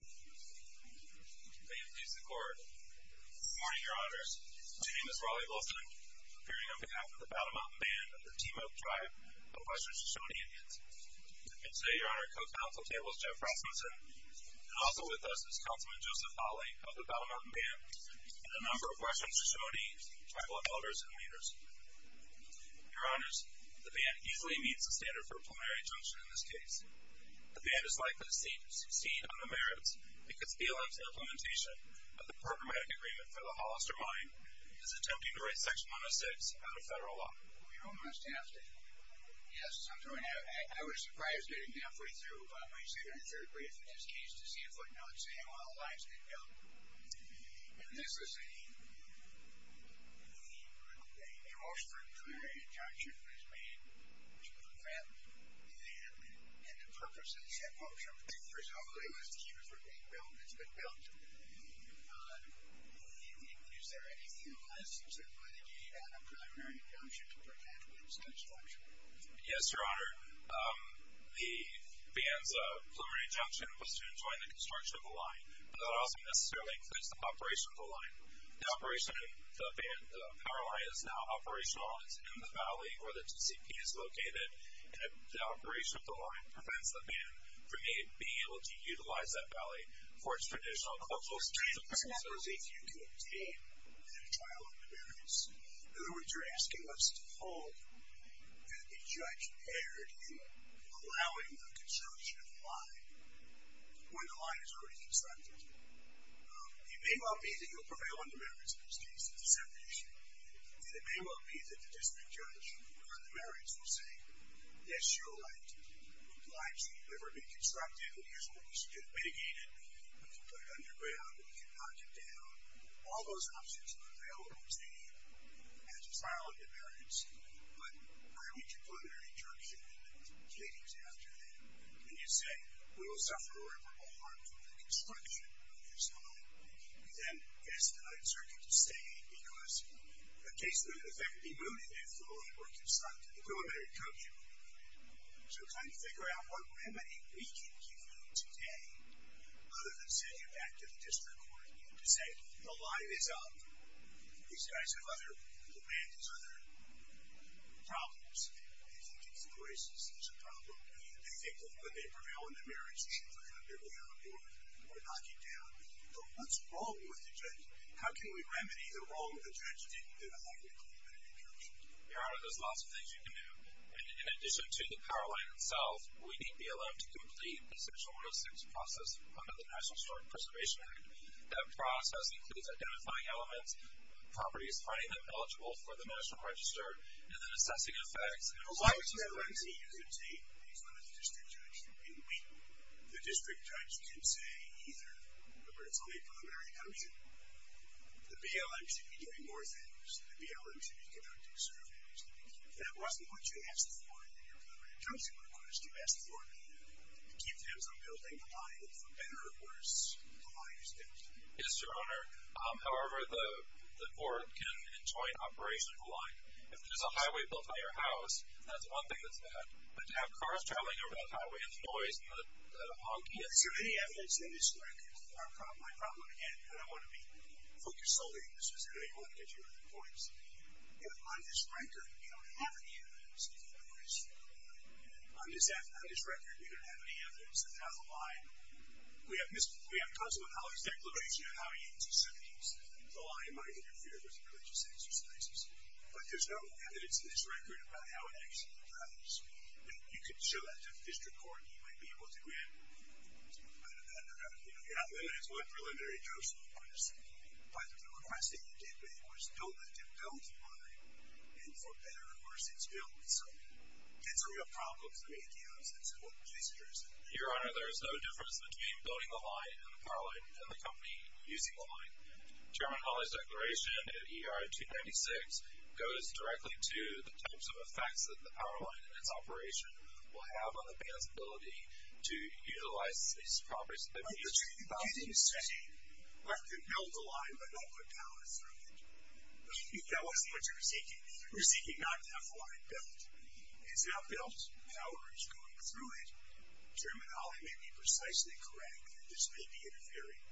May it please the Court. Good morning, Your Honors. My name is Raleigh Wilson, appearing on behalf of the Battle Mountain Band of the Te-Moak Tribe of Western Shoshone Indians. And today, Your Honor, co-council table is Jeff Rasmussen, and also with us is Councilman Joseph Hawley of the Battle Mountain Band and a number of Western Shoshone tribal elders and leaders. Your Honors, the band easily meets the standard for plenary adjunction in this case. The band is likely to succeed on the merits, because BLM's implementation of the programmatic agreement for the Hollister Mine is attempting to write Section 106 out of federal law. Well, you're almost half there. Yes, I'm throwing out, I was surprised getting halfway through my second and third brief in this case to see a footnote saying, well, the line's been built. And this is the most preliminary adjunction was made, and the purpose of the adjunction, for example, was to keep it from being built, and it's been built. Is there anything else? And why did you add a preliminary adjunction to prevent this construction? Yes, Your Honor. The band's preliminary adjunction was to enjoin the construction of the line, but that also necessarily includes the operation of the line. The operation of the band, the power line, is now operational. It's in the valley where the TCP is located, and the operation of the line prevents the band from being able to utilize that valley for its traditional cultural purposes. I was wondering if you could obtain a trial on the merits. In other words, you're asking us to hold a judge paired in allowing the construction of the line when the line is already constructed. It may well be that you'll prevail on the merits in this case, the separation, and it may well be that the district judge on the merits will say, yes, Your Honor, the line should never be constructed. It usually should be mitigated. We can put it underground. We can knock it down. All those options are available to you as a trial on the merits, but why would you put a preliminary adjunction in the pleadings after that when you say we will suffer irreparable harm from the construction of this line? We then ask the Ninth Circuit to say, because the case would, in effect, be mooted if the line were constructed, the preliminary adjunction. So trying to figure out what remedy we can give you today, rather than send you back to the district court to say, the line is up. These guys have other, the band has other problems. They think it's the racist. It's a problem. They think that when they prevail on the merits, you should put it underground or knock it down. What's wrong with the judge? How can we remedy the wrong the judge didn't do to have a preliminary adjunction? Your Honor, there's lots of things you can do. In addition to the power line itself, we need be allowed to complete the section 106 process under the National Historic Preservation Act. That process includes identifying elements, properties, finding them eligible for the national register, and then assessing effects. Why would the LNC use a tape? He's not a district judge. The district judge can say either. Remember, it's only a preliminary adjunction. The BLM should be giving more things. The BLM should be conducting surveys. If that wasn't what you asked for in your preliminary adjunction, what do you ask the court to do? To keep things on building the line, for better or worse, the line is down. Yes, Your Honor. However, the court can enjoy an operational line. If there's a highway built on your house, that's one thing that's bad. But to have cars traveling over that highway, the noise, the honking. Is there any evidence in this record? My problem, again, I don't want to be focused solely on this, because I don't want to get you into points. On this record, we don't have any evidence. On this record, we don't have any evidence of how the line. We have consulate colleagues' declarations on how to use a set piece. The line might interfere with religious exercises. But there's no evidence in this record about how it actually drives. And you can show that to the district court, and you might be able to grant some kind of that. You know, you're not limiting it to one preliminary adjunction, of course. But the request that you did make was don't let them build the line. And for better or worse, it's built. So that's a real problem for ATMs and so forth. Please address it. Your Honor, there is no difference between building the line, and the power line, and the company using the line. Chairman Hawley's declaration in ER 296 goes directly to the types of effects that the power line and its operation will have on the ability to utilize these properties. But you didn't say let them build the line, but don't put power through it. That wasn't what you were seeking. You were seeking not to have the line built. It's not built. Power is going through it. Chairman Hawley may be precisely correct. This may be interfering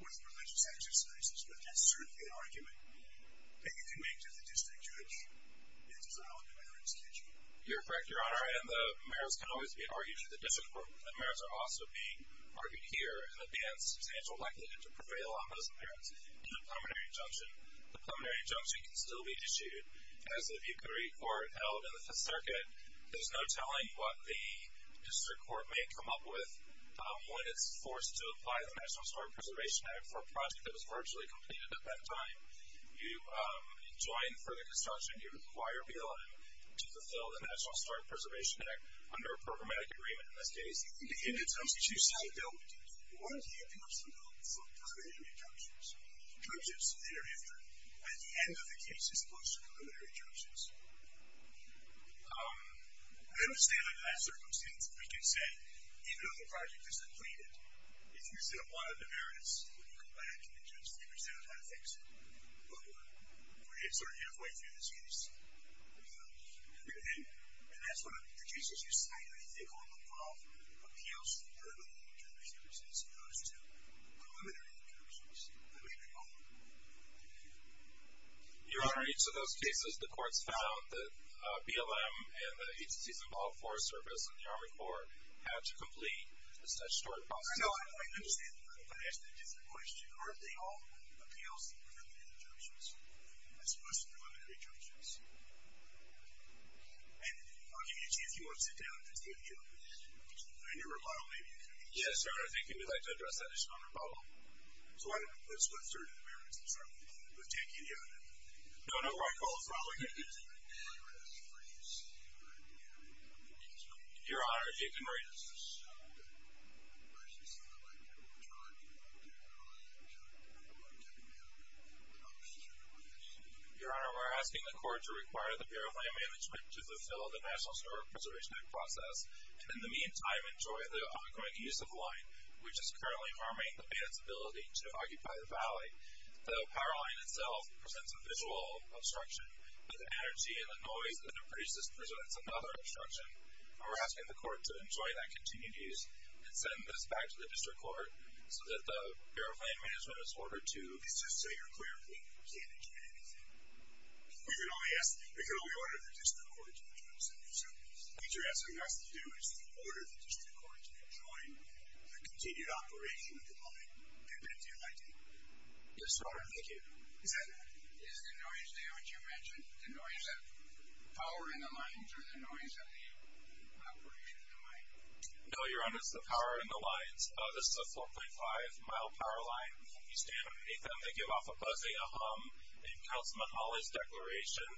with religious exercises, but that's certainly an argument that you can make to the district judge in the design of the merits, can't you? You're correct, Your Honor. And the merits can always be argued through the district court. The merits are also being argued here. And the ban is substantial likelihood to prevail on those merits in the preliminary adjunction. The preliminary adjunction can still be issued. As of you can recall, held in the Fifth Circuit, there's no telling what the district court may come up with when it's forced to apply the National Historic Preservation Act for a project that was virtually completed at that time. You join for the construction. You require BLM to fulfill the National Historic Preservation Act under a programmatic agreement in this case. In the case that you say built, what are the impacts of those preliminary adjunctions? Judges thereafter, at the end of the case, as opposed to preliminary adjunctions? I don't stand under that circumstance. We can say, even though the project is completed, if you see a lot of demerits, you can come back and the judge can figure out how to fix it. But we're sort of halfway through this case. And that's one of the cases you cite, I think, on the law, appeals for preliminary adjunctions as opposed to preliminary adjunctions. I don't even know. Thank you. Your Honor, in each of those cases, the courts found that BLM and the agencies involved, Forest Service and the Army Corps, had to complete the statutory process. I know. I understand the question. Aren't they all appeals for preliminary adjunctions as opposed to preliminary adjunctions? And I'll give you a chance if you want to sit down and think about that in your rebuttal, maybe. Yes, Your Honor. I think you'd like to address that issue in your rebuttal. So I don't know if that's with certain demerits. I'm sorry. I can't get you on it. No, no. I apologize. Your Honor, if you can read this. Your Honor, we're asking the court to require the Bureau of Land Management to fulfill the National Historic Preservation Act process and, in the meantime, enjoy the ongoing use of land, which is currently harming the Bay's ability to occupy the valley. The power line itself presents a visual obstruction, but the energy and the noise that it produces presents another obstruction. And we're asking the court to enjoy that continued use and send this back to the district court so that the Bureau of Land Management is ordered to... Please just say your clear opinion. We can't intervene in anything. We can only ask... We can only order the district court to adjoin the center service. What you're asking us to do is to order the district court to adjoin the continued operation of the line. Yes, sir. Thank you. Is that... Is the noise there what you mentioned, the noise of power in the lines or the noise of the operation of the line? No, Your Honor, it's the power in the lines. This is a 4.5-mile power line. You stand underneath them. They give off a buzzing, a hum, and you can tell it's Mahala's declaration.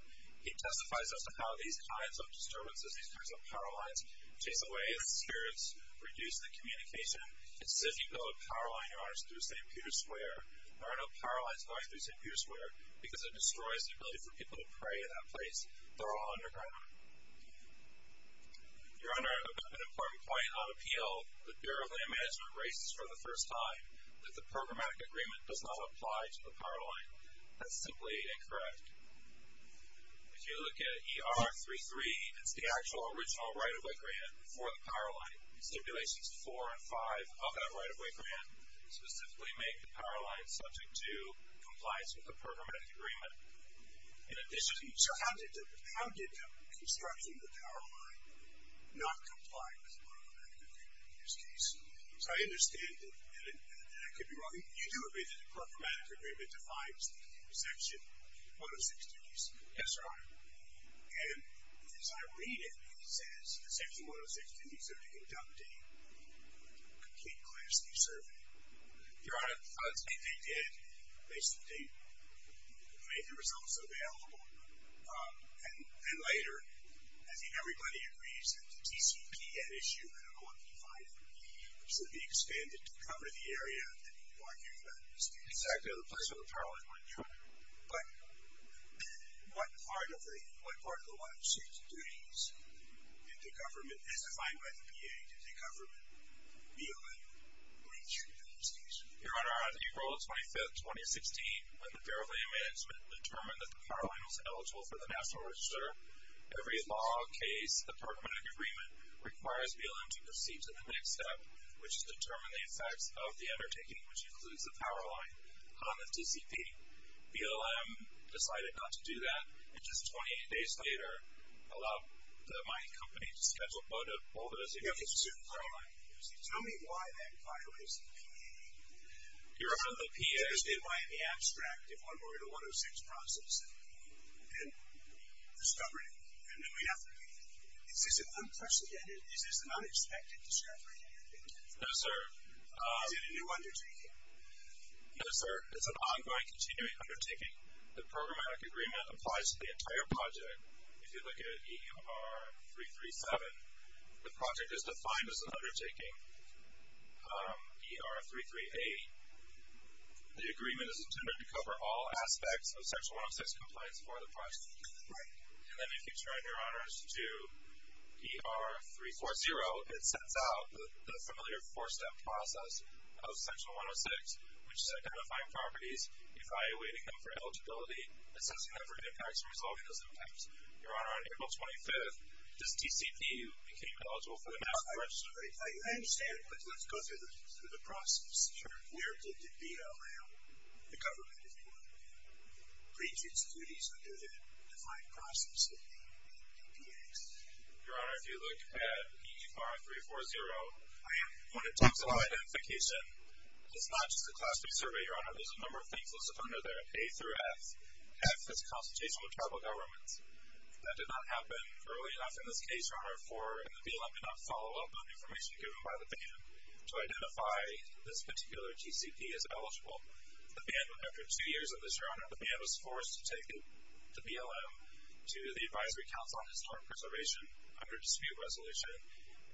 He testifies as to how these kinds of disturbances, these kinds of power lines, chase away its spirits, reduce the communication. It says you build a power line, Your Honor, through St. Peter's Square. There are no power lines going through St. Peter's Square because it destroys the ability for people to pray at that place. They're all underground. Your Honor, I've got an important point on appeal. The Bureau of Land Management raises for the first time that the programmatic agreement does not apply to the power line. That's simply incorrect. If you look at ER33, it's the actual original right-of-way grant for the power line. Stipulations 4 and 5 of that right-of-way grant specifically make the power line subject to compliance with the programmatic agreement. In addition... So how did constructing the power line not comply with the programmatic agreement in this case? So I understand that I could be wrong. You do agree that the programmatic agreement defines the section 106, don't you, sir? Yes, Your Honor. And as I read it, it says that section 106 didn't consider conducting a complete class D survey. Your Honor, I would say they did. Basically, they made the results available. And then later, I think everybody agrees that the TCPN issue, I don't know if you find it, should be expanded to cover the area that you are hearing about. Exactly, the place where the power line went through. But what part of the 163s did the government, as defined by the PA, did the government, BLM, reach in this case? Your Honor, on April 25, 2016, when the Bureau of Land Management determined that the power line was eligible for the National Register, every law, case, the programmatic agreement requires BLM to proceed to the next step, which is to determine the effects of the undertaking, which includes the power line, on the TCP. BLM decided not to do that, and just 28 days later, allowed the mining company to schedule a vote of all the decisions. Tell me why that violates the PA. Your Honor, the PA... Why in the abstract, if one were in a 106 process, and discovered it, and then we have to... Is this an unprecedented, is this an unexpected discovery? No, sir. Is it a new undertaking? No, sir. It's an ongoing, continuing undertaking. The programmatic agreement applies to the entire project. If you look at ER337, the project is defined as an undertaking. ER338, the agreement is intended to cover all aspects of Section 106 compliance for the project. Right. And then if you turn, Your Honor, to ER340, it sets out the familiar 4-step process of Section 106, which is identifying properties, evaluating them for eligibility, assessing them for impacts, and resolving those impacts. Your Honor, on April 25th, this TCP became eligible for the mask registry. I understand, but let's go through the process. Sure. Where did the BLM, the government, if you will, breach its duties under the defined process of the DPAs? Your Honor, if you look at ER340, when it talks about identification, it's not just a class 3 survey, Your Honor. There's a number of things listed under there, A through F. F is consultation with tribal governments. That did not happen early enough in this case, Your Honor, for the BLM to not follow up on information given by the BAN to identify this particular TCP as eligible. The BAN, after 2 years of this, Your Honor, the BAN was forced to take the BLM to the Advisory Council on Historic Preservation under dispute resolution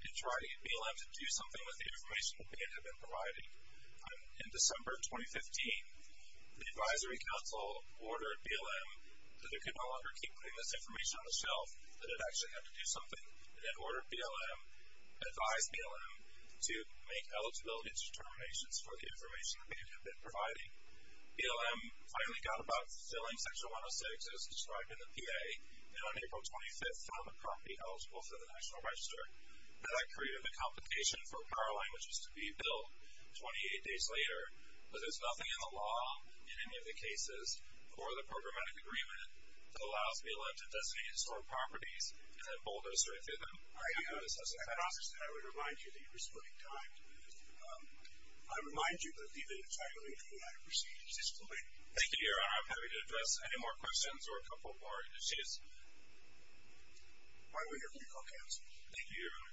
and try to get BLM to do something with the information that BAN had been providing. In December 2015, the Advisory Council ordered BLM that it could no longer keep putting this information on the shelf, that it actually had to do something, and then ordered BLM, advised BLM, to make eligibility determinations for the information that BAN had been providing. BLM finally got about filling Section 106, as described in the PA, and on April 25th found the property eligible for the National Register. That created the complication for power line, which was to be built 28 days later. But there's nothing in the law, in any of the cases, for the programmatic agreement that allows BLM to designate historic properties and then bulldoze right through them. I understand. I would remind you that you're splitting time. I remind you that the evidence I believe you have received is fully... Thank you, Your Honor. I'm happy to address any more questions, or a couple more issues. Why don't we hear from the co-counsel? Thank you, Your Honor.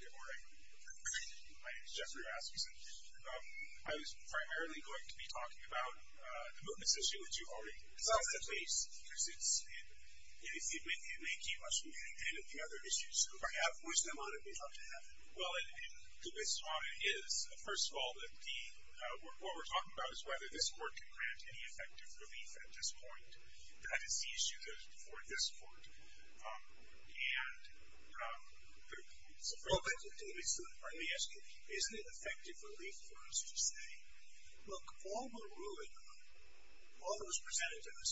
Good morning. My name is Jeffrey Rasmussen. I was primarily going to be talking about the movements issue, because it may keep us from getting into the other issues. So if I have wisdom on it, we'd love to have it. Well, the question is, first of all, what we're talking about is whether this court can grant any effective relief at this point. That is the issue for this court. Well, let me ask you, isn't it effective relief for us to say, Look, all we're ruling on, all that was presented to us,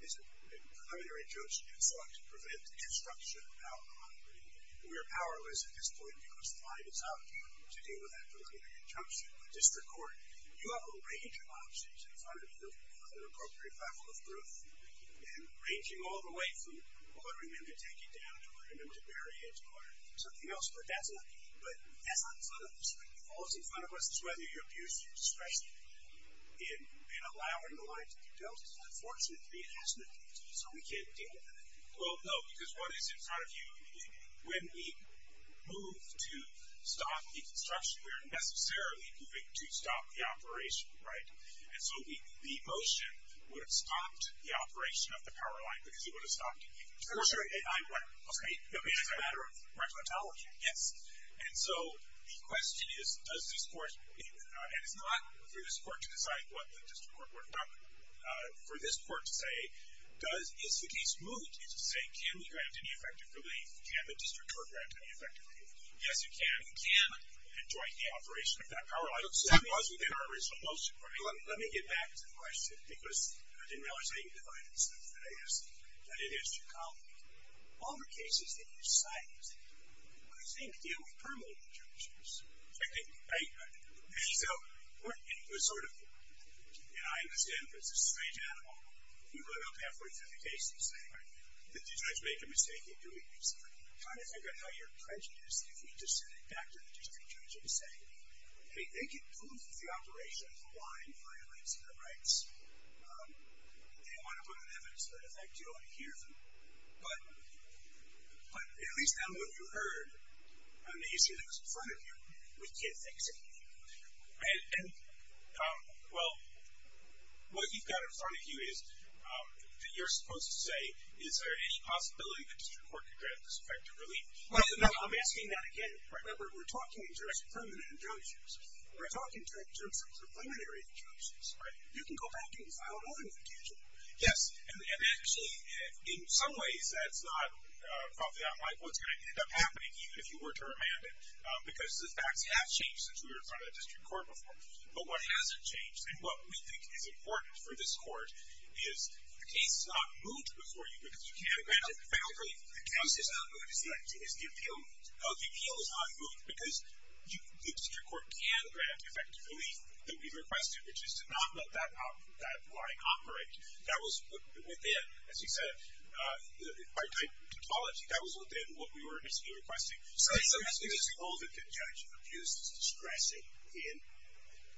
is a preliminary judgment to prevent the destruction of our honor. We are powerless at this point, because the time is up to deal with that preliminary injunction. But this is the court. You have a range of options in front of you on an appropriate level of proof. And ranging all the way from ordering them to take it down or ordering them to bury it or something else, but that's not in front of us. All that's in front of us is whether you're abusing discretion in allowing the line to be built. Unfortunately, it hasn't, so we can't deal with it. Well, no, because what is in front of you, when we move to stop the construction, we're necessarily moving to stop the operation, right? And so the motion would have stopped the operation of the power line, because it would have stopped it. Of course, you're right. It's a matter of racontology. Yes. And so the question is, does this court, and it's not for this court to decide what the district court would run, for this court to say, is the case moved? Is it saying, can we grant any effective relief? Can the district court grant any effective relief? Yes, you can. You can adjoin the operation of that power line. That was within our original motion. Let me get back to the question, because I didn't realize how you divided the stuff. I guess that it is too complicated. All the cases that you cite, what you're saying to deal with permanently judges. Right. So it was sort of, and I understand, but it's a strange animal. You run up halfway through the case and say, did the judge make a mistake in doing this? I'm trying to figure out how your prejudice, if we just send it back to the district judge and say, hey, they can prove that the operation of the line violates their rights. They don't want to put it on evidence, so in effect, you don't want to hear them. But at least that's what you heard on the issue that was in front of you. We can't fix it. And, well, what you've got in front of you is, you're supposed to say, is there any possibility that district court could grant this effective relief? I'm asking that again. Remember, we're talking in terms of permanent injunctions. We're talking in terms of preliminary injunctions. Right. You can go back and file more than one case. Yes, and actually, in some ways, that's not probably unlike what's going to end up happening, even if you were to remand it, because the facts have changed since we were in front of the district court before. But what hasn't changed, and what we think is important for this court, is the case is not moved before you because you can't grant it. The case is not moved because the appeal is not moved, because the district court can grant effective relief that we've requested, which is to not let that line operate. That was within, as you said, by typology, that was within what we were initially requesting. So you're suggesting that the judge abused his discretion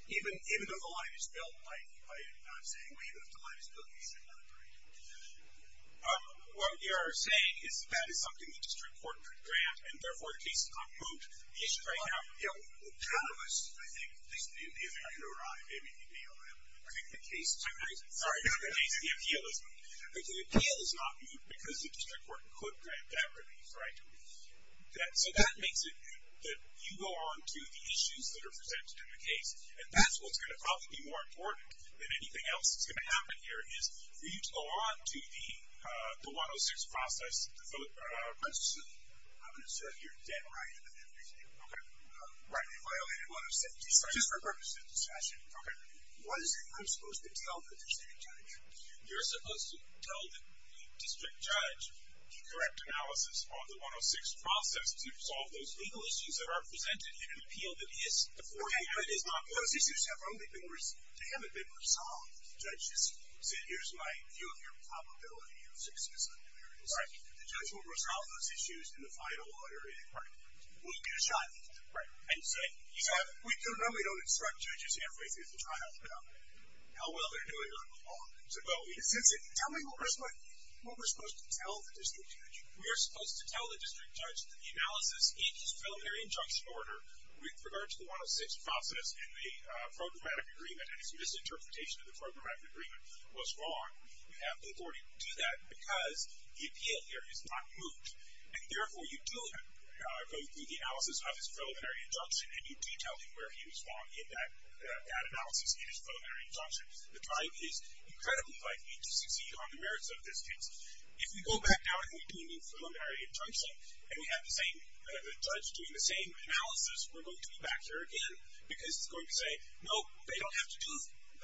even if the line is built, like I'm saying, even if the line is built, the district court can grant it? What you're saying is that is something the district court could grant, and, therefore, the case is not moved. The issue right now, you know, the panelists, I think, if they could arrive, they may be able to. I think the case is not moved. Sorry, no, the case, the appeal is not moved. The appeal is not moved because the district court could grant that relief, right? So that makes it that you go on to the issues that are presented in the case, and that's what's going to probably be more important than anything else that's going to happen here, is for you to go on to the 106 process. I'm going to assert your dead right in the 15th. Okay. Violated 106. Just for purposes of discussion. Okay. What is it I'm supposed to tell the district judge? You're supposed to tell the district judge the correct analysis of the 106 process to resolve those legal issues that are presented in an appeal that is before you. Okay. Those issues have only been resolved. They haven't been resolved. The judge just said, Here's my view of your probability of success. Right. The judge will resolve those issues in the final order. Right. We'll give it a shot. Right. And said, We normally don't instruct judges halfway through the trial about how well they're doing on the law. Tell me what we're supposed to tell the district judge. We are supposed to tell the district judge that the analysis in this preliminary injunction order with regard to the 106 process and the programmatic agreement and his misinterpretation of the programmatic agreement was wrong. You have the authority to do that because the appeal here is not moved. And, therefore, you do go through the analysis of his preliminary injunction and you do tell him where he was wrong in that analysis in his preliminary injunction. The time is incredibly likely to succeed on the merits of this case. If we go back now and we do a new preliminary injunction and we have the judge doing the same analysis, we're going to be back here again because he's going to say, No, they don't have to do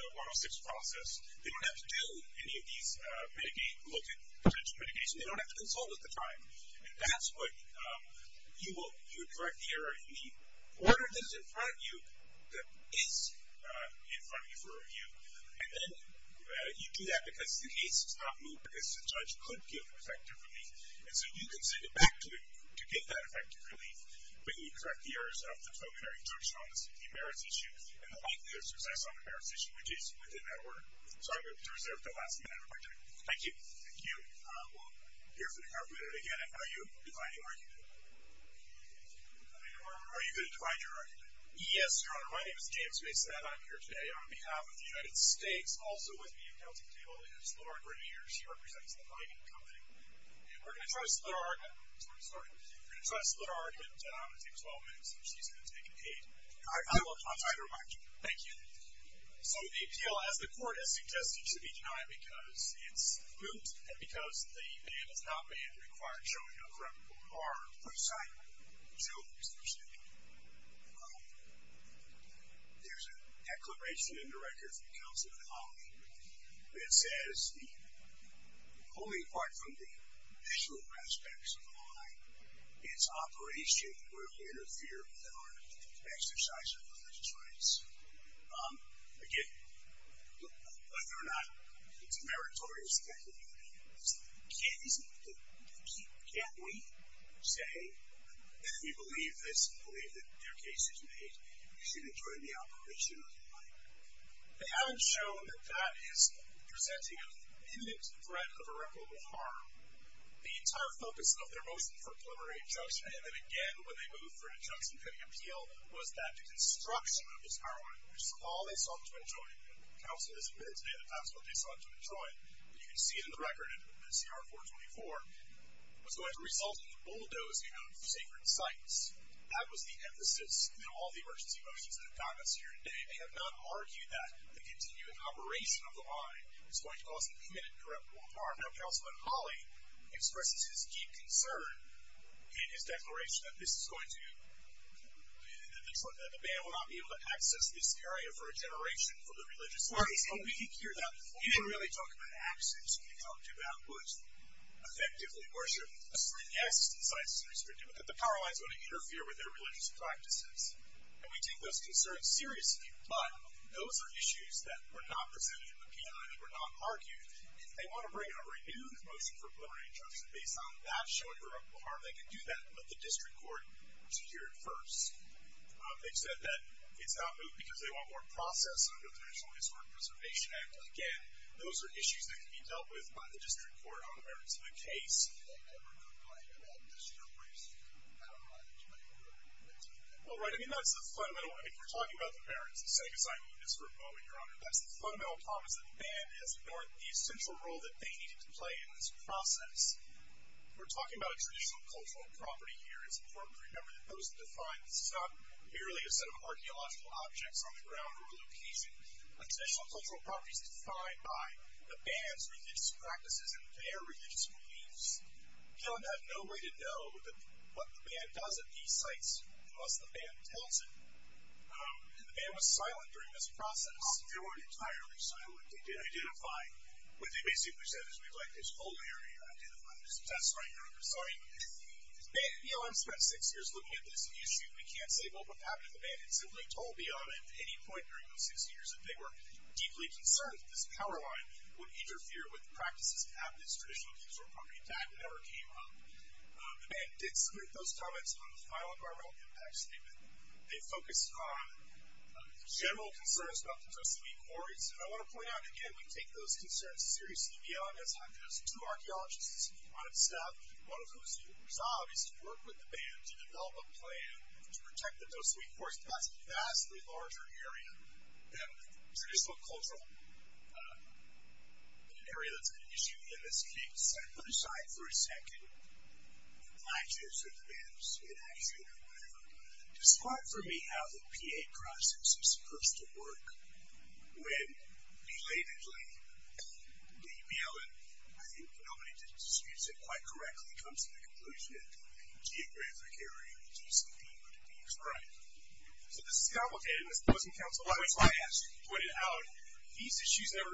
the 106 process. They don't have to do any of these potential mitigations. They don't have to consult at the time. And that's what you would correct the error in the order that is in front of you that is in front of you for review. And then you do that because the case is not moved because the judge could give effective relief. And so you can send it back to him to give that effective relief. But you correct the errors of the preliminary injunction based on the merits issue and the likelihood of success on the merits issue, which is within that order. So I'm going to reserve the last minute of my time. Thank you. Thank you. We'll hear from the arbitrator again. And how are you defining your argument? Are you going to define your argument? Yes, Your Honor. My name is James Mason, and I'm here today on behalf of the United States. Also with me at the counting table is Laura Grenier. She represents the Heinen Company. And we're going to try to split our argument. I'm sorry. We're going to try to split our argument. I'm going to take 12 minutes, and she's going to take eight. I will try to remind you. Thank you. So the appeal, as the court has suggested, should be denied because it's moved and because the man is not manned and required showing a correct report. All right. Please sign. Joe, please proceed. There's a declaration in the record from Councilman Hawley that says, only apart from the visual aspects of the line, its operation will interfere with our exercise of the legislature's rights. Again, whether or not it's a meritorious act or not, it's the case of the people. Can't we say that we believe this and believe that their case is made? We should enjoy the operation of the line. They haven't shown that that is presenting an imminent threat of irreparable harm. The entire focus of their motion for preliminary injunction, and then again when they moved for an injunction pending appeal, was that the construction of this power line, which is all they sought to enjoy, and Council has admitted today that that's what they sought to enjoy, and you can see it in the record in CR 424, was going to result in the bulldozing of sacred sites. That was the emphasis in all the emergency motions that have gotten us here today. They have not argued that the continuing operation of the line is going to cause an imminent and irreparable harm. Now, Councilman Hawley expresses his deep concern in his declaration that this is going to, that the ban will not be able to access this area for a generation for the religious practice. And we can hear that. We didn't really talk about access. We talked about what effectively worship, and yes, the sites are restricted, but that the power line is going to interfere with their religious practices. And we take those concerns seriously, but those are issues that were not presented in the P.I., that were not argued. If they want to bring a renewed motion for preliminary injunction based on that showing irreparable harm, they can do that and let the district court secure it first. They've said that it's not moved because they want more process under the Traditional Historic Preservation Act. Again, those are issues that can be dealt with by the district court on the merits of the case. Do they ever complain about district courts Well, right. I mean, that's the fundamental, if you're talking about the merits, the sake is I mean this for a moment, Your Honor. That's the fundamental promise that the ban has ignored the essential role that they needed to play in this process. We're talking about a traditional cultural property here. It's important to remember that those that define this is not merely a set of archaeological objects on the ground or location. A traditional cultural property is defined by the ban's religious practices and their religious beliefs. We don't have no way to know what the ban does at these sites unless the ban tells it. And the ban was silent during this process. They weren't entirely silent. They did identify. What they basically said is we'd like this whole area identified. That's right, Your Honor. Sorry. The ban, BLM spent six years looking at this issue. We can't say what would happen if the ban had simply told BLM at any point during those six years that they were deeply concerned that this power line would interfere with practices and have this traditional cultural property intact. It never came up. The ban did submit those comments on the final environmental impact statement. They focused on general concerns about the Tosewi Quartz. And I want to point out again, we take those concerns seriously. BLM has two archaeologists on its staff, one of whose job is to work with the ban to develop a plan to protect the Tosewi Quartz. That's a vastly larger area than the traditional cultural area that's an issue in this case. Let's put aside for a second actions or demands in action or whatever. Despite, for me, how the PA process is supposed to work, when belatedly the BLM, I think nobody disputes it quite correctly, comes to the conclusion that geographic area, GCD, would be expressed. So this is complicated, and this doesn't count to a lot. As I actually pointed out, these issues haven't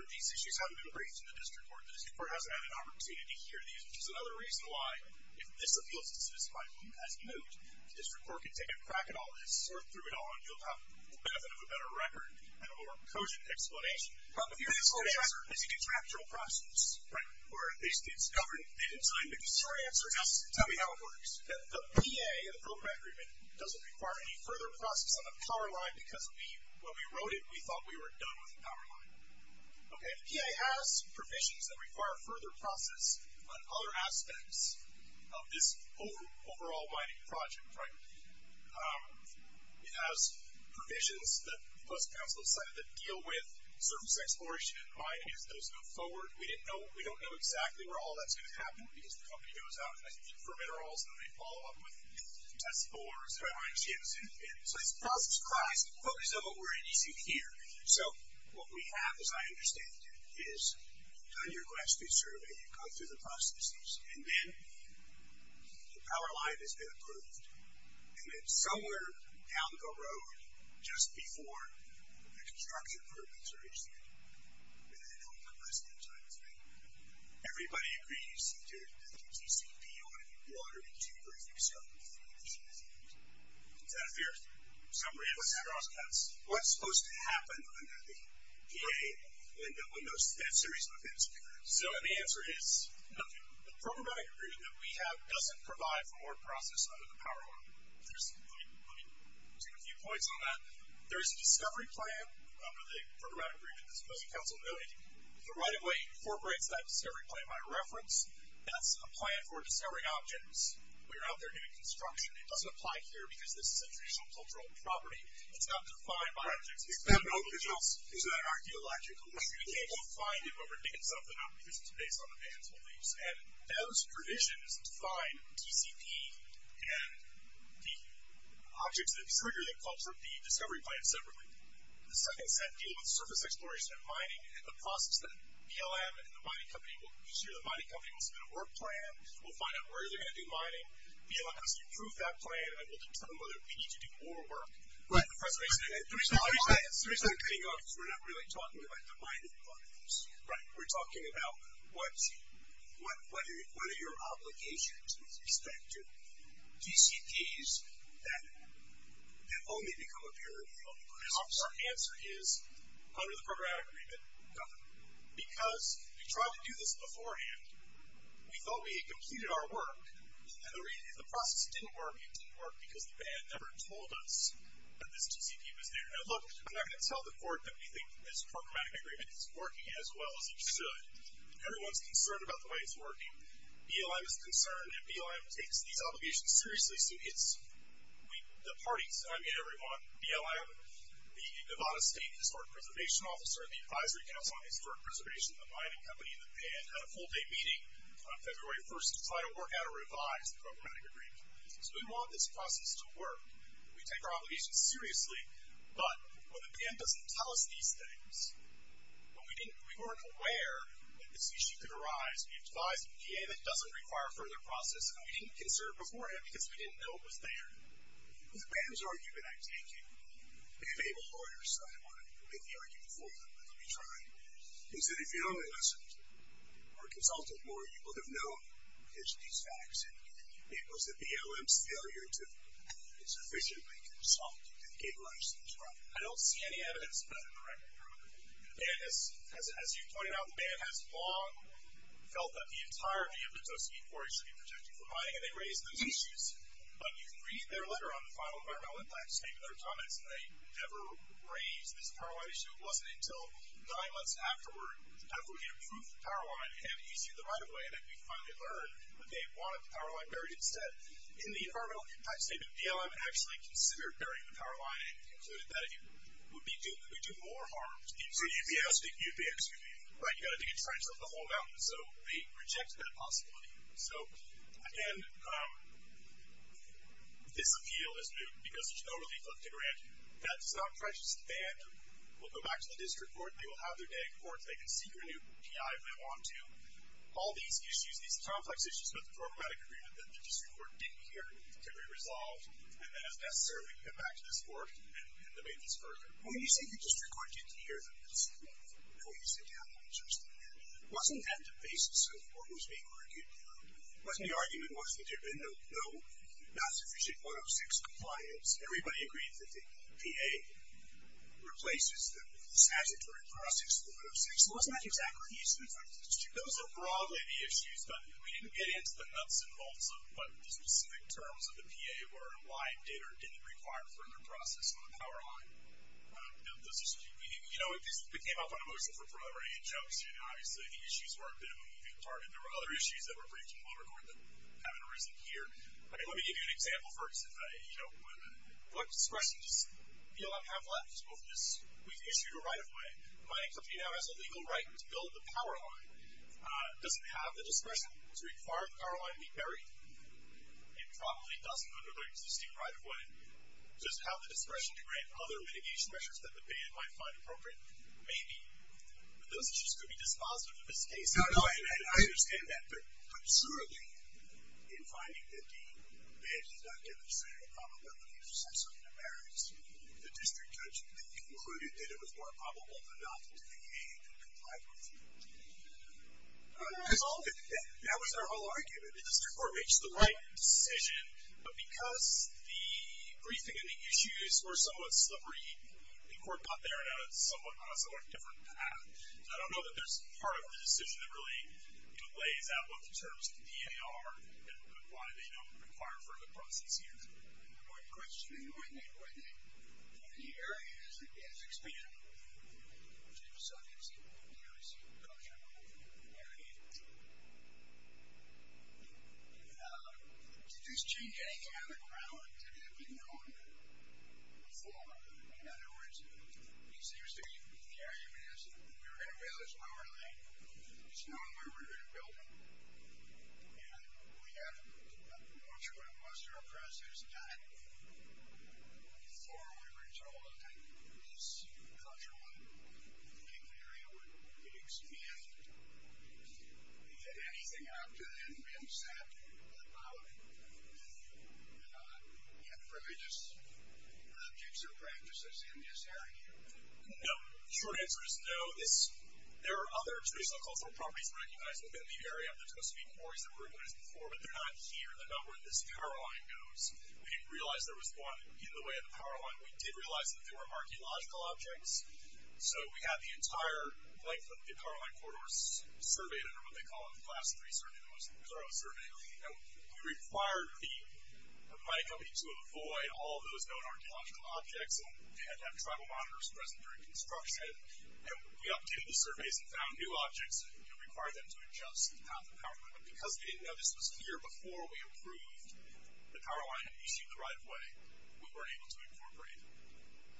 been raised in the district court. The district court hasn't had an opportunity to hear these, which is another reason why, if this appeals to satisfy whom has moved, the district court can take a crack at all of this or through it all, and you'll have the benefit of a better record and a more cogent explanation. But the answer is it's an actual process. Right. Or they didn't tell you the detour answer. Tell me how it works. The PA, the program agreement, doesn't require any further process on the power line because when we wrote it, we thought we were done with the power line. Okay. The PA has provisions that require further process on other aspects of this overall mining project, right. It has provisions that the Postal Council decided to deal with, surface exploration, mining, as those go forward. We don't know exactly where all that's going to happen because the company goes out looking for minerals, and then they follow up with test spores, dry mines, geosynthetics. So this process requires the focus of what we're introducing here. So what we have, as I understand it, is you've done your grass-roots survey, you've gone through the processes, and then the power line has been approved. And then somewhere down the road, just before the construction permits are issued, and I know we've got less than time, I think, everybody agrees that there's going to be TCP on it, you'll be able to order it in two weeks, you can start with it in three weeks, you can finish it in three weeks. Is that fair? So what's supposed to happen under the PA when that series begins? So the answer is nothing. The programmatic agreement that we have doesn't provide for more process under the power line. Let me take a few points on that. There is a discovery plan under the programmatic agreement that the Postal Council noted. The right-of-way incorporates that discovery plan by reference. That's a plan for discovery objects. We're out there doing construction. It doesn't apply here because this is a traditional cultural property. It's not defined by objects. It's not an open source. It's not an archaeological issue. You can't find it, but we're making something up because it's based on the mantle leaves. And those provisions define TCP and the objects that trigger the discovery plan separately. The second set deal with surface exploration and mining, and the process that BLM and the mining company will consider, the mining company will submit a work plan, we'll find out where they're going to do mining. BLM has to approve that plan, and we'll determine whether we need to do more work. Right. The reason we're getting off is we're not really talking about the mining companies. Right. We're talking about what are your obligations with respect to TCPs that have only become a purity of the process. Our answer is under the programmatic agreement, nothing. Because we tried to do this beforehand. We thought we had completed our work, and the process didn't work, and it didn't work because the band never told us that this TCP was there. Now, look, I'm not going to tell the court that we think this programmatic agreement is working as well as it should. Everyone's concerned about the way it's working. BLM is concerned, and BLM takes these obligations seriously. So it's the parties. I meet everyone. BLM, the Nevada State Historic Preservation Officer, the Advisory Council on Historic Preservation, the mining company, and the band had a full-day meeting on February 1st to try to work out or revise the programmatic agreement. So we want this process to work. We take our obligations seriously, but when the band doesn't tell us these things, we weren't aware that this issue could arise. We advised the EPA that it doesn't require a further process, and we didn't consider it beforehand because we didn't know it was there. The band's argument, I take it, they have able lawyers, so I want to make the argument for them. Let me try. He said if you'd only listened or consulted more, you would have known these facts, and it was the BLM's failure to sufficiently consult and capitalize on this problem. I don't see any evidence of that in the record. And as you've pointed out, the band has long felt that the entirety of the Tocqueville quarry should be projected for mining, and they raised those issues. But you can read their letter on the final environmental impact statement, their comments, and they never raised this power line issue. It wasn't until nine months afterward, after we had approved the power line, and issued the right-of-way, that we finally learned that they wanted the power line buried instead. In the environmental impact statement, BLM actually considered burying the power line and concluded that it would do more harm to the EPA. You've got to dig a trench up the whole mountain, so they rejected that possibility. So, again, this appeal is due because there's no relief left to grant. That's not precious to the band. We'll go back to the district court. They will have their day at court. They can seek a new PI if they want to. All these issues, these complex issues about the programmatic agreement that the district court didn't hear can be resolved, and then, as necessary, we can come back to this court and debate this further. When you say the district court didn't hear this, what do you say to that? Wasn't that the basis of what was being argued? Wasn't the argument, wasn't it? No. Not sufficient 106 compliance. Everybody agrees that the PA replaces the statutory process, the 106. Wasn't that exactly the issue in front of the district court? Those are broadly the issues, but we didn't get into the nuts and bolts of what the specific terms of the PA were, why it did or didn't require further process on the power line. You know, it came up on a motion for further injunction. Obviously, the issues were a bit of a moving part, and there were other issues that were pretty well recorded that haven't arisen here. I mean, let me give you an example first. You know, what discretion does BLM have left over this? We've issued a right-of-way. The mining company now has a legal right to build the power line. Does it have the discretion to require the power line to be buried? It probably doesn't under the existing right-of-way. Does it have the discretion to grant other mitigation measures that the ban might find appropriate? Maybe. But those issues could be dispositive of this case. I understand that. But surely in finding that the ban did not give the same probability of subsidy to barriers, the district judge concluded that it was more probable for not the PA to comply with you. Because that was our whole argument. The district court makes the right decision, but because the briefing and the issues were somewhat slippery, the court got there on a somewhat different path. So I don't know that there's part of the decision that really delays out what the terms of the PA are and why they don't require further process here. I have one question. Go ahead, Nate. Go ahead, Nate. In the area that is expanded, which is a sub-example of the D.R.C. production area, did this change anything on the ground that had been known before? In other words, it seems to me that the area that we were going to build is power lane. It's known where we're going to build it. And we have not sure what most of our process is done before we were told that this cultural and legal area would be expanded. Did anything after that have been said about it? You have privileges, objects, or practices in this area? No. The short answer is no. There are other traditional cultural properties recognized within the area of the Tosavine Quarries that were recognized before, but they're not here. They're not where this power line goes. We didn't realize there was one in the way of the power line. We did realize that there were archaeological objects. So we had the entire length of the power line corridors surveyed under what they call a Class III survey, the most thorough survey. And we required the mining company to avoid all those known archaeological objects. And we had to have tribal monitors present during construction. And we updated the surveys and found new objects that required them to adjust the path of power. But because they didn't know this was here before we approved the power line and issued the right-of-way, we weren't able to incorporate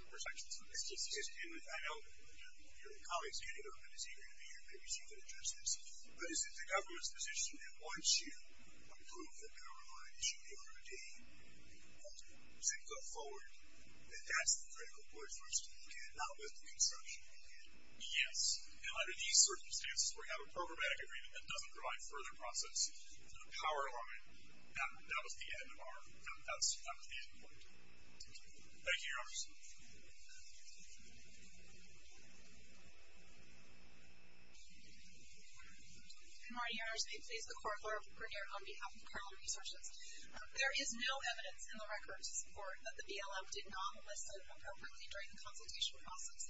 the protections for this. I know that one of your colleagues, Andy Irvin, is eager to be here and maybe see if he can address this. But is it the government's position that once you approve the power line, you should be able to retain it? Does it go forward? That's the critical point for us to look at, not with the construction company. Yes, and under these circumstances, where you have a programmatic agreement that doesn't provide further processes for the power line, that was the end of our... That was the end point. Thank you. Thank you, Your Honors. Good morning, Your Honors. I'm here today to please the Court of Law of Grineer on behalf of Carlin Researchers. There is no evidence in the records, Your Honor, that the BLM did not enlist appropriately during the consultation process.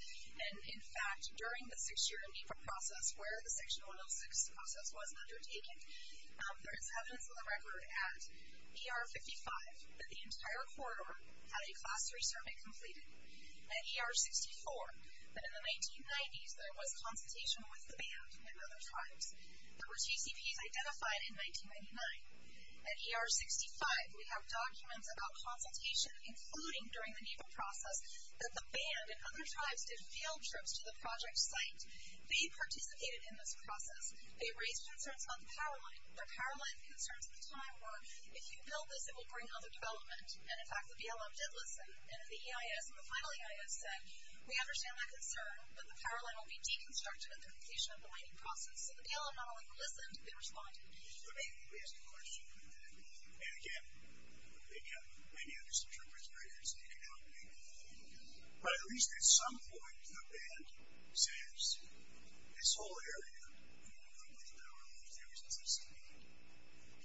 And, in fact, during the six-year process where the Section 106 process was undertaken, there is evidence in the record at ER 55 that the entire corridor had a Class 3 survey completed. At ER 64, that in the 1990s, there was consultation with the band and other tribes. There were two CPs identified in 1999. At ER 65, we have documents about consultation, including during the NEPA process, that the band and other tribes did field trips to the project site. They participated in this process. They raised concerns about the power line. The power line concerns at the time were, if you build this, it will bring other development. And, in fact, the BLM did listen. And the EIS and the final EIS said, we understand that concern, but the power line will be deconstructed during the completion of the mining process. So the BLM not only listened, they responded. So they raised the question, and again, they got many of these interpreters right here, so they could help make the thing. But at least at some point, the band says, this whole area, when you look at the power lines, there was a sustained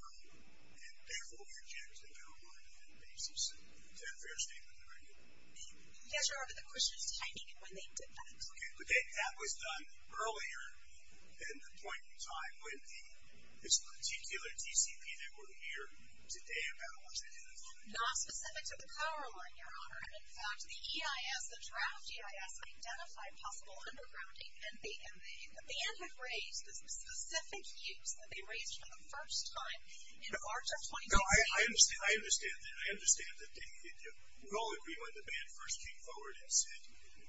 problem. And, therefore, we rejected the power line on that basis. Is that a fair statement to make? Yes, Your Honor, but the question is timing and when they did that. Okay, but that was done earlier than the point in time when this particular TCP that we're here today about was identified. Not specific to the power line, Your Honor. In fact, the EIS, the draft EIS, identified possible undergrounding, and the band had raised this specific use that they raised for the first time in March of 2018. No, I understand that. I understand that. We all agree when the band first came forward and said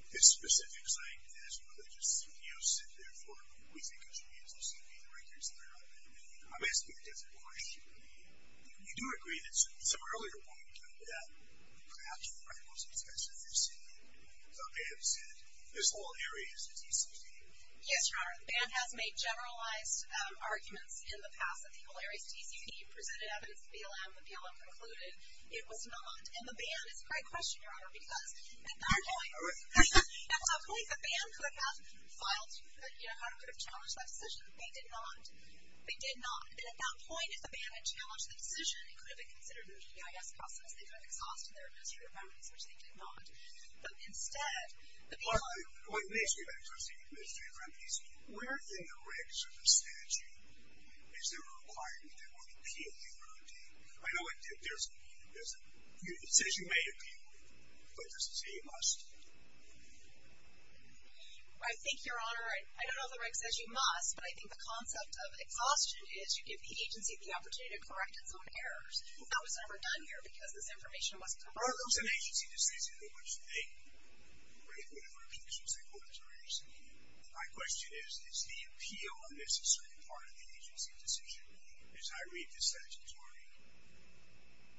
this specific site has religious CPUs, and, therefore, we think it should be a TCP. I'm asking a different question. You do agree that at some earlier point in time, perhaps for the most expensive TCP, the band said this whole area is a TCP. Yes, Your Honor, the band has made generalized arguments in the past that the whole area is a TCP, presented evidence to BLM. The BLM concluded it was not. And the band is a great question, Your Honor, because at that point, at some point, the band could have filed, Your Honor, could have challenged that decision. They did not. They did not. And at that point, if the band had challenged the decision, it could have been considered an EIS process. They could have exhausted their administrative remedies, which they did not. But, instead, the BLM... Well, let me ask you about administrative remedies. Where in the regs of the statute is there a requirement that we appeal the remedy? I know there's a... It says you may appeal it, but it doesn't say you must. I think, Your Honor, I don't know if the reg says you must, but I think the concept of exhaustion is you give the agency the opportunity to correct its own errors. That was never done here, because this information wasn't provided. Are those an agency decision in which they break whatever objections they put as a remedy? My question is, is the appeal a necessary part of the agency decision? As I read this statutory...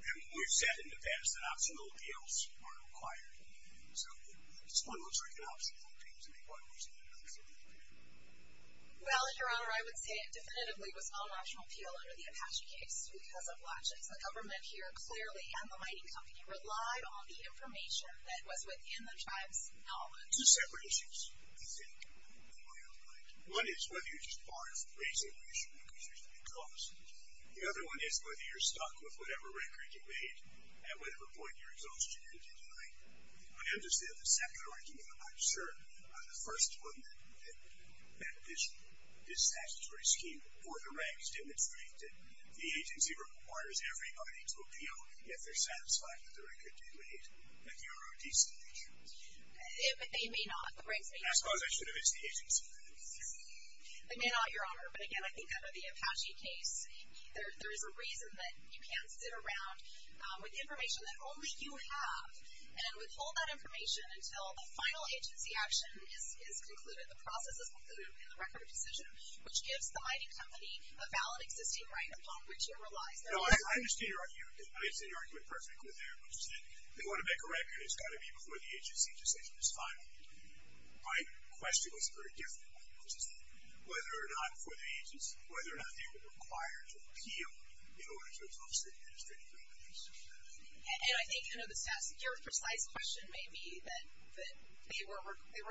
And we've said in the past that optional appeals are required. So, it's almost like an optional appeal to make one reason or another for the remedy. Well, Your Honor, I would say it definitively was not an optional appeal under the Apache case because of logics. The government here clearly, and the mining company, relied on the information that was within the tribe's knowledge. Two separate issues, I think, in my own mind. One is whether you're just barred from raising the issue because there's a big cost. The other one is whether you're stuck with whatever record you made at whatever point you're exhausted and you're denied. I understand the second argument. I'm sure the first one that this statutory scheme or the regs demonstrate that the agency requires everybody to appeal if they're satisfied with the record they made. And you're a decent teacher. They may not. The regs may not. I suppose I should have asked the agency then. They may not, Your Honor. But again, I think under the Apache case, there is a reason that you can't sit around with information that only you have and withhold that information until the final agency action is concluded, the process is concluded in the record of decision, which gives the mining company a valid existing right upon which it relies. No, I understand your argument. I understand your argument perfectly there, which is that they want to make a record. It's got to be before the agency decision is final. My question was very different, which is whether or not for the agency, whether or not they were required to appeal in order to obstruct the administrative records. And I think, you know, the stat secure precise question may be that they were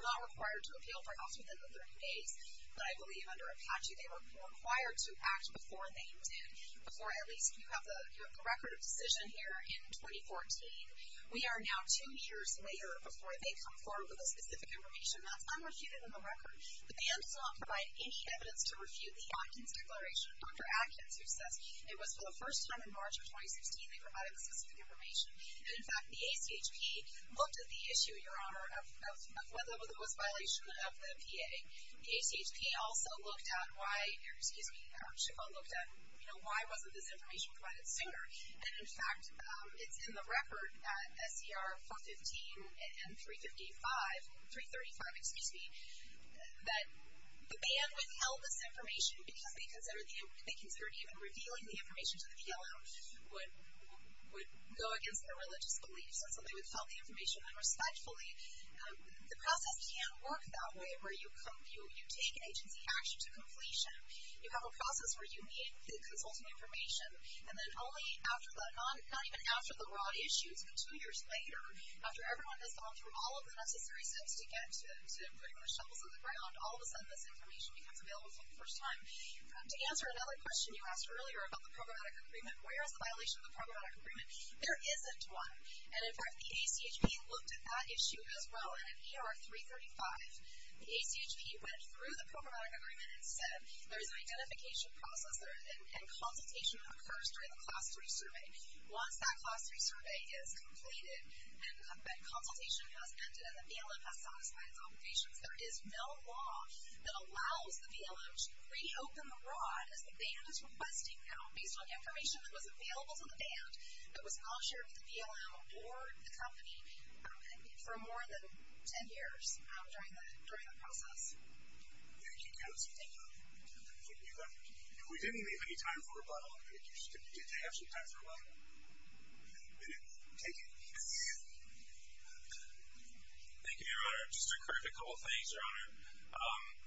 not required to appeal perhaps within the 30 days. But I believe under Apache, they were required to act before they intended, before at least you have the record of decision here in 2014. We are now two years later before they come forward with the specific information. That's unrefuted in the record. But the N does not provide any evidence to refute the Atkins declaration. Dr. Atkins, who says it was for the first time in March of 2016, they provided the specific information. And in fact, the ACHP looked at the issue, Your Honor, of whether there was violation of the PA. The ACHP also looked at why, excuse me, the Archival looked at, you know, why wasn't this information provided sooner. And in fact, it's in the record, at SCR 415 and 355, 335, excuse me, that the ban withheld this information because they considered even revealing the information to the PLO would go against their religious beliefs and so they withheld the information unrespectfully. The process can't work that way where you take agency action to completion. You have a process where you need the consulting information and then only after that, not even after the raw issues, but two years later, after everyone has gone through all of the necessary steps to get to putting their shovels in the ground, all of a sudden this information becomes available for the first time. To answer another question you asked earlier about the programmatic agreement, where is the violation of the programmatic agreement? There isn't one. And in fact, the ACHP looked at that issue as well. And in ER 335, the ACHP went through the programmatic agreement and said there's an identification process and consultation that occurs during the Class 3 survey. Once that Class 3 survey is completed and that consultation has ended and the PLO has satisfied its obligations, there is no law that allows the PLO to reopen the rod as the band is requesting now, based on information that was available to the band but was not shared with the PLO or the company for more than 10 years during the process. Thank you, Cass. Thank you. We didn't leave any time for rebuttal. Did you have some time for a rebuttal? Take it. Thank you, Your Honor. Just to correct a couple of things, Your Honor.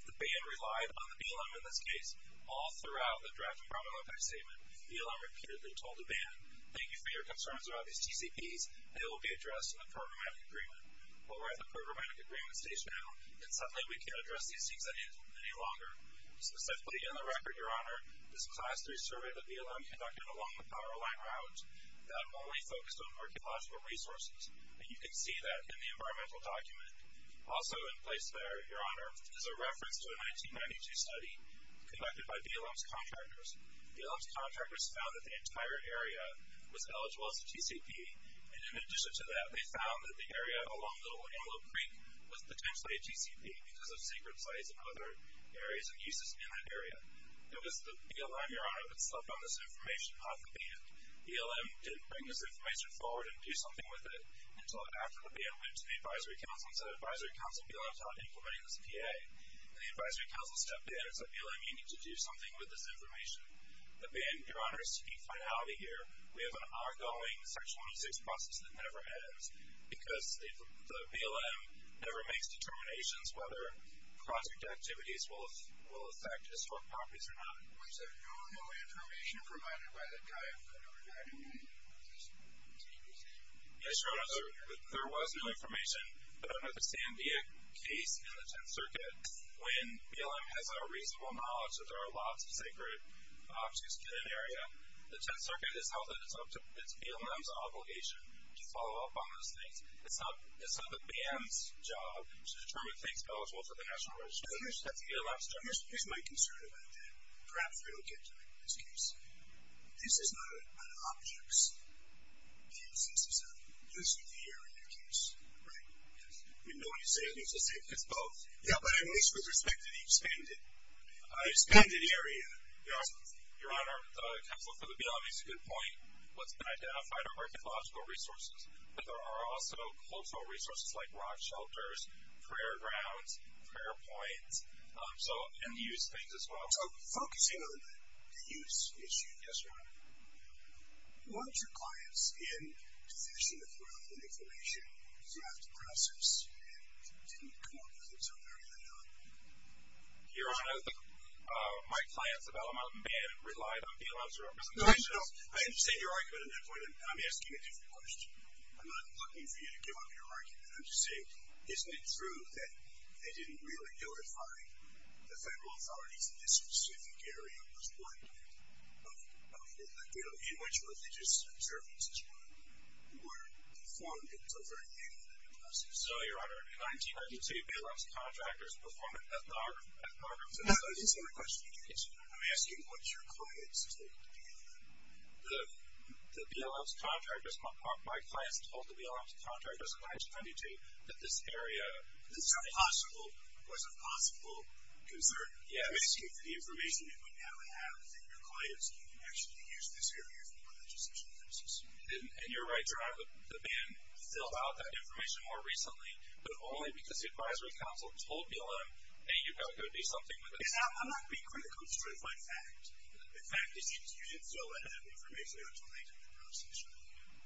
The band relied on the BLM in this case all throughout the draft and problem impact statement. BLM repeatedly told the band, thank you for your concerns about these TCPs and it will be addressed in the programmatic agreement. Well, we're at the programmatic agreement stage now and suddenly we can't address these things any longer. Specifically, in the record, Your Honor, this Class 3 survey that BLM conducted along the power line route that only focused on archaeological resources. And you can see that in the environmental document. Also in place there, Your Honor, is a reference to a 1992 study conducted by BLM's contractors. BLM's contractors found that the entire area was eligible as a TCP. And in addition to that, they found that the area along Little Antelope Creek was potentially a TCP because of secret sites and other areas and uses in that area. It was the BLM, Your Honor, that stepped on this information, not the band. BLM didn't bring this information forward and do something with it until after the band went to the advisory council and said advisory council, BLM's not implementing this PA. And the advisory council stepped in and said BLM, you need to do something with this information. The band, Your Honor, is taking finality here. We have an ongoing Section 26 process that never ends because the BLM never makes determinations whether project activities will affect historic properties or not. There was no information provided by the guy from 1999 about this TCP thing? Yes, Your Honor, there was no information. I don't understand the case in the Tenth Circuit when BLM has a reasonable knowledge that there are lots of sacred objects in an area. The Tenth Circuit has held that it's BLM's obligation to follow up on those things. It's not the band's job to determine things eligible for the National Register. That's BLM's job. Here's my concern about that. Perhaps we don't get to make this case. This is not an objects case. This is a lucid area case, right? Yes. You know what you're saying. It's both. Yeah, but at least with respect to the expanded area. The expanded area, Your Honor, the Council for the BLM makes a good point. What's been identified are archaeological resources, but there are also cultural resources like rock shelters, prayer grounds, prayer points, and used things as well. So focusing on the use issue. Yes, Your Honor. Once your client's in, to finish up with enough information, do you have to process and continue to come up with things on their end or not? Your Honor, my client's a Bellarmine band and relied on BLM's representations. No, no, no. I understand your argument on that point, but I'm asking a different question. I'm not looking for you to give up your argument. I'm just saying, isn't it true that they didn't really notify the federal authorities in this specific area was one in which religious observances were performed in favor of the BLM? So, Your Honor, in 1998, BLM's contractors performed ethnographies. That's the same question you're asking. I'm asking, once your client's in, the BLM's contractors, my client's told the BLM's contractors in 1992 that this area... This was a possible concern. Yes. The information that we now have that your client's actually used this area for religious observances. And you're right, Your Honor. The band filled out that information more recently, but only because the advisory council told BLM that you felt there would be something with it. And I'm not being critical. It's true. In fact, you didn't fill that information out until later in the process.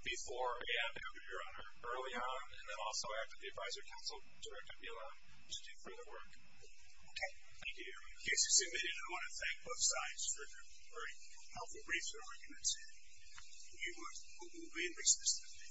Before we have to, Your Honor, early on, and then also after the advisory council directed BLM to do further work. Okay. Thank you, Your Honor. The case is submitted. I want to thank both sides for their very helpful briefs and arguments. We will be in recess today.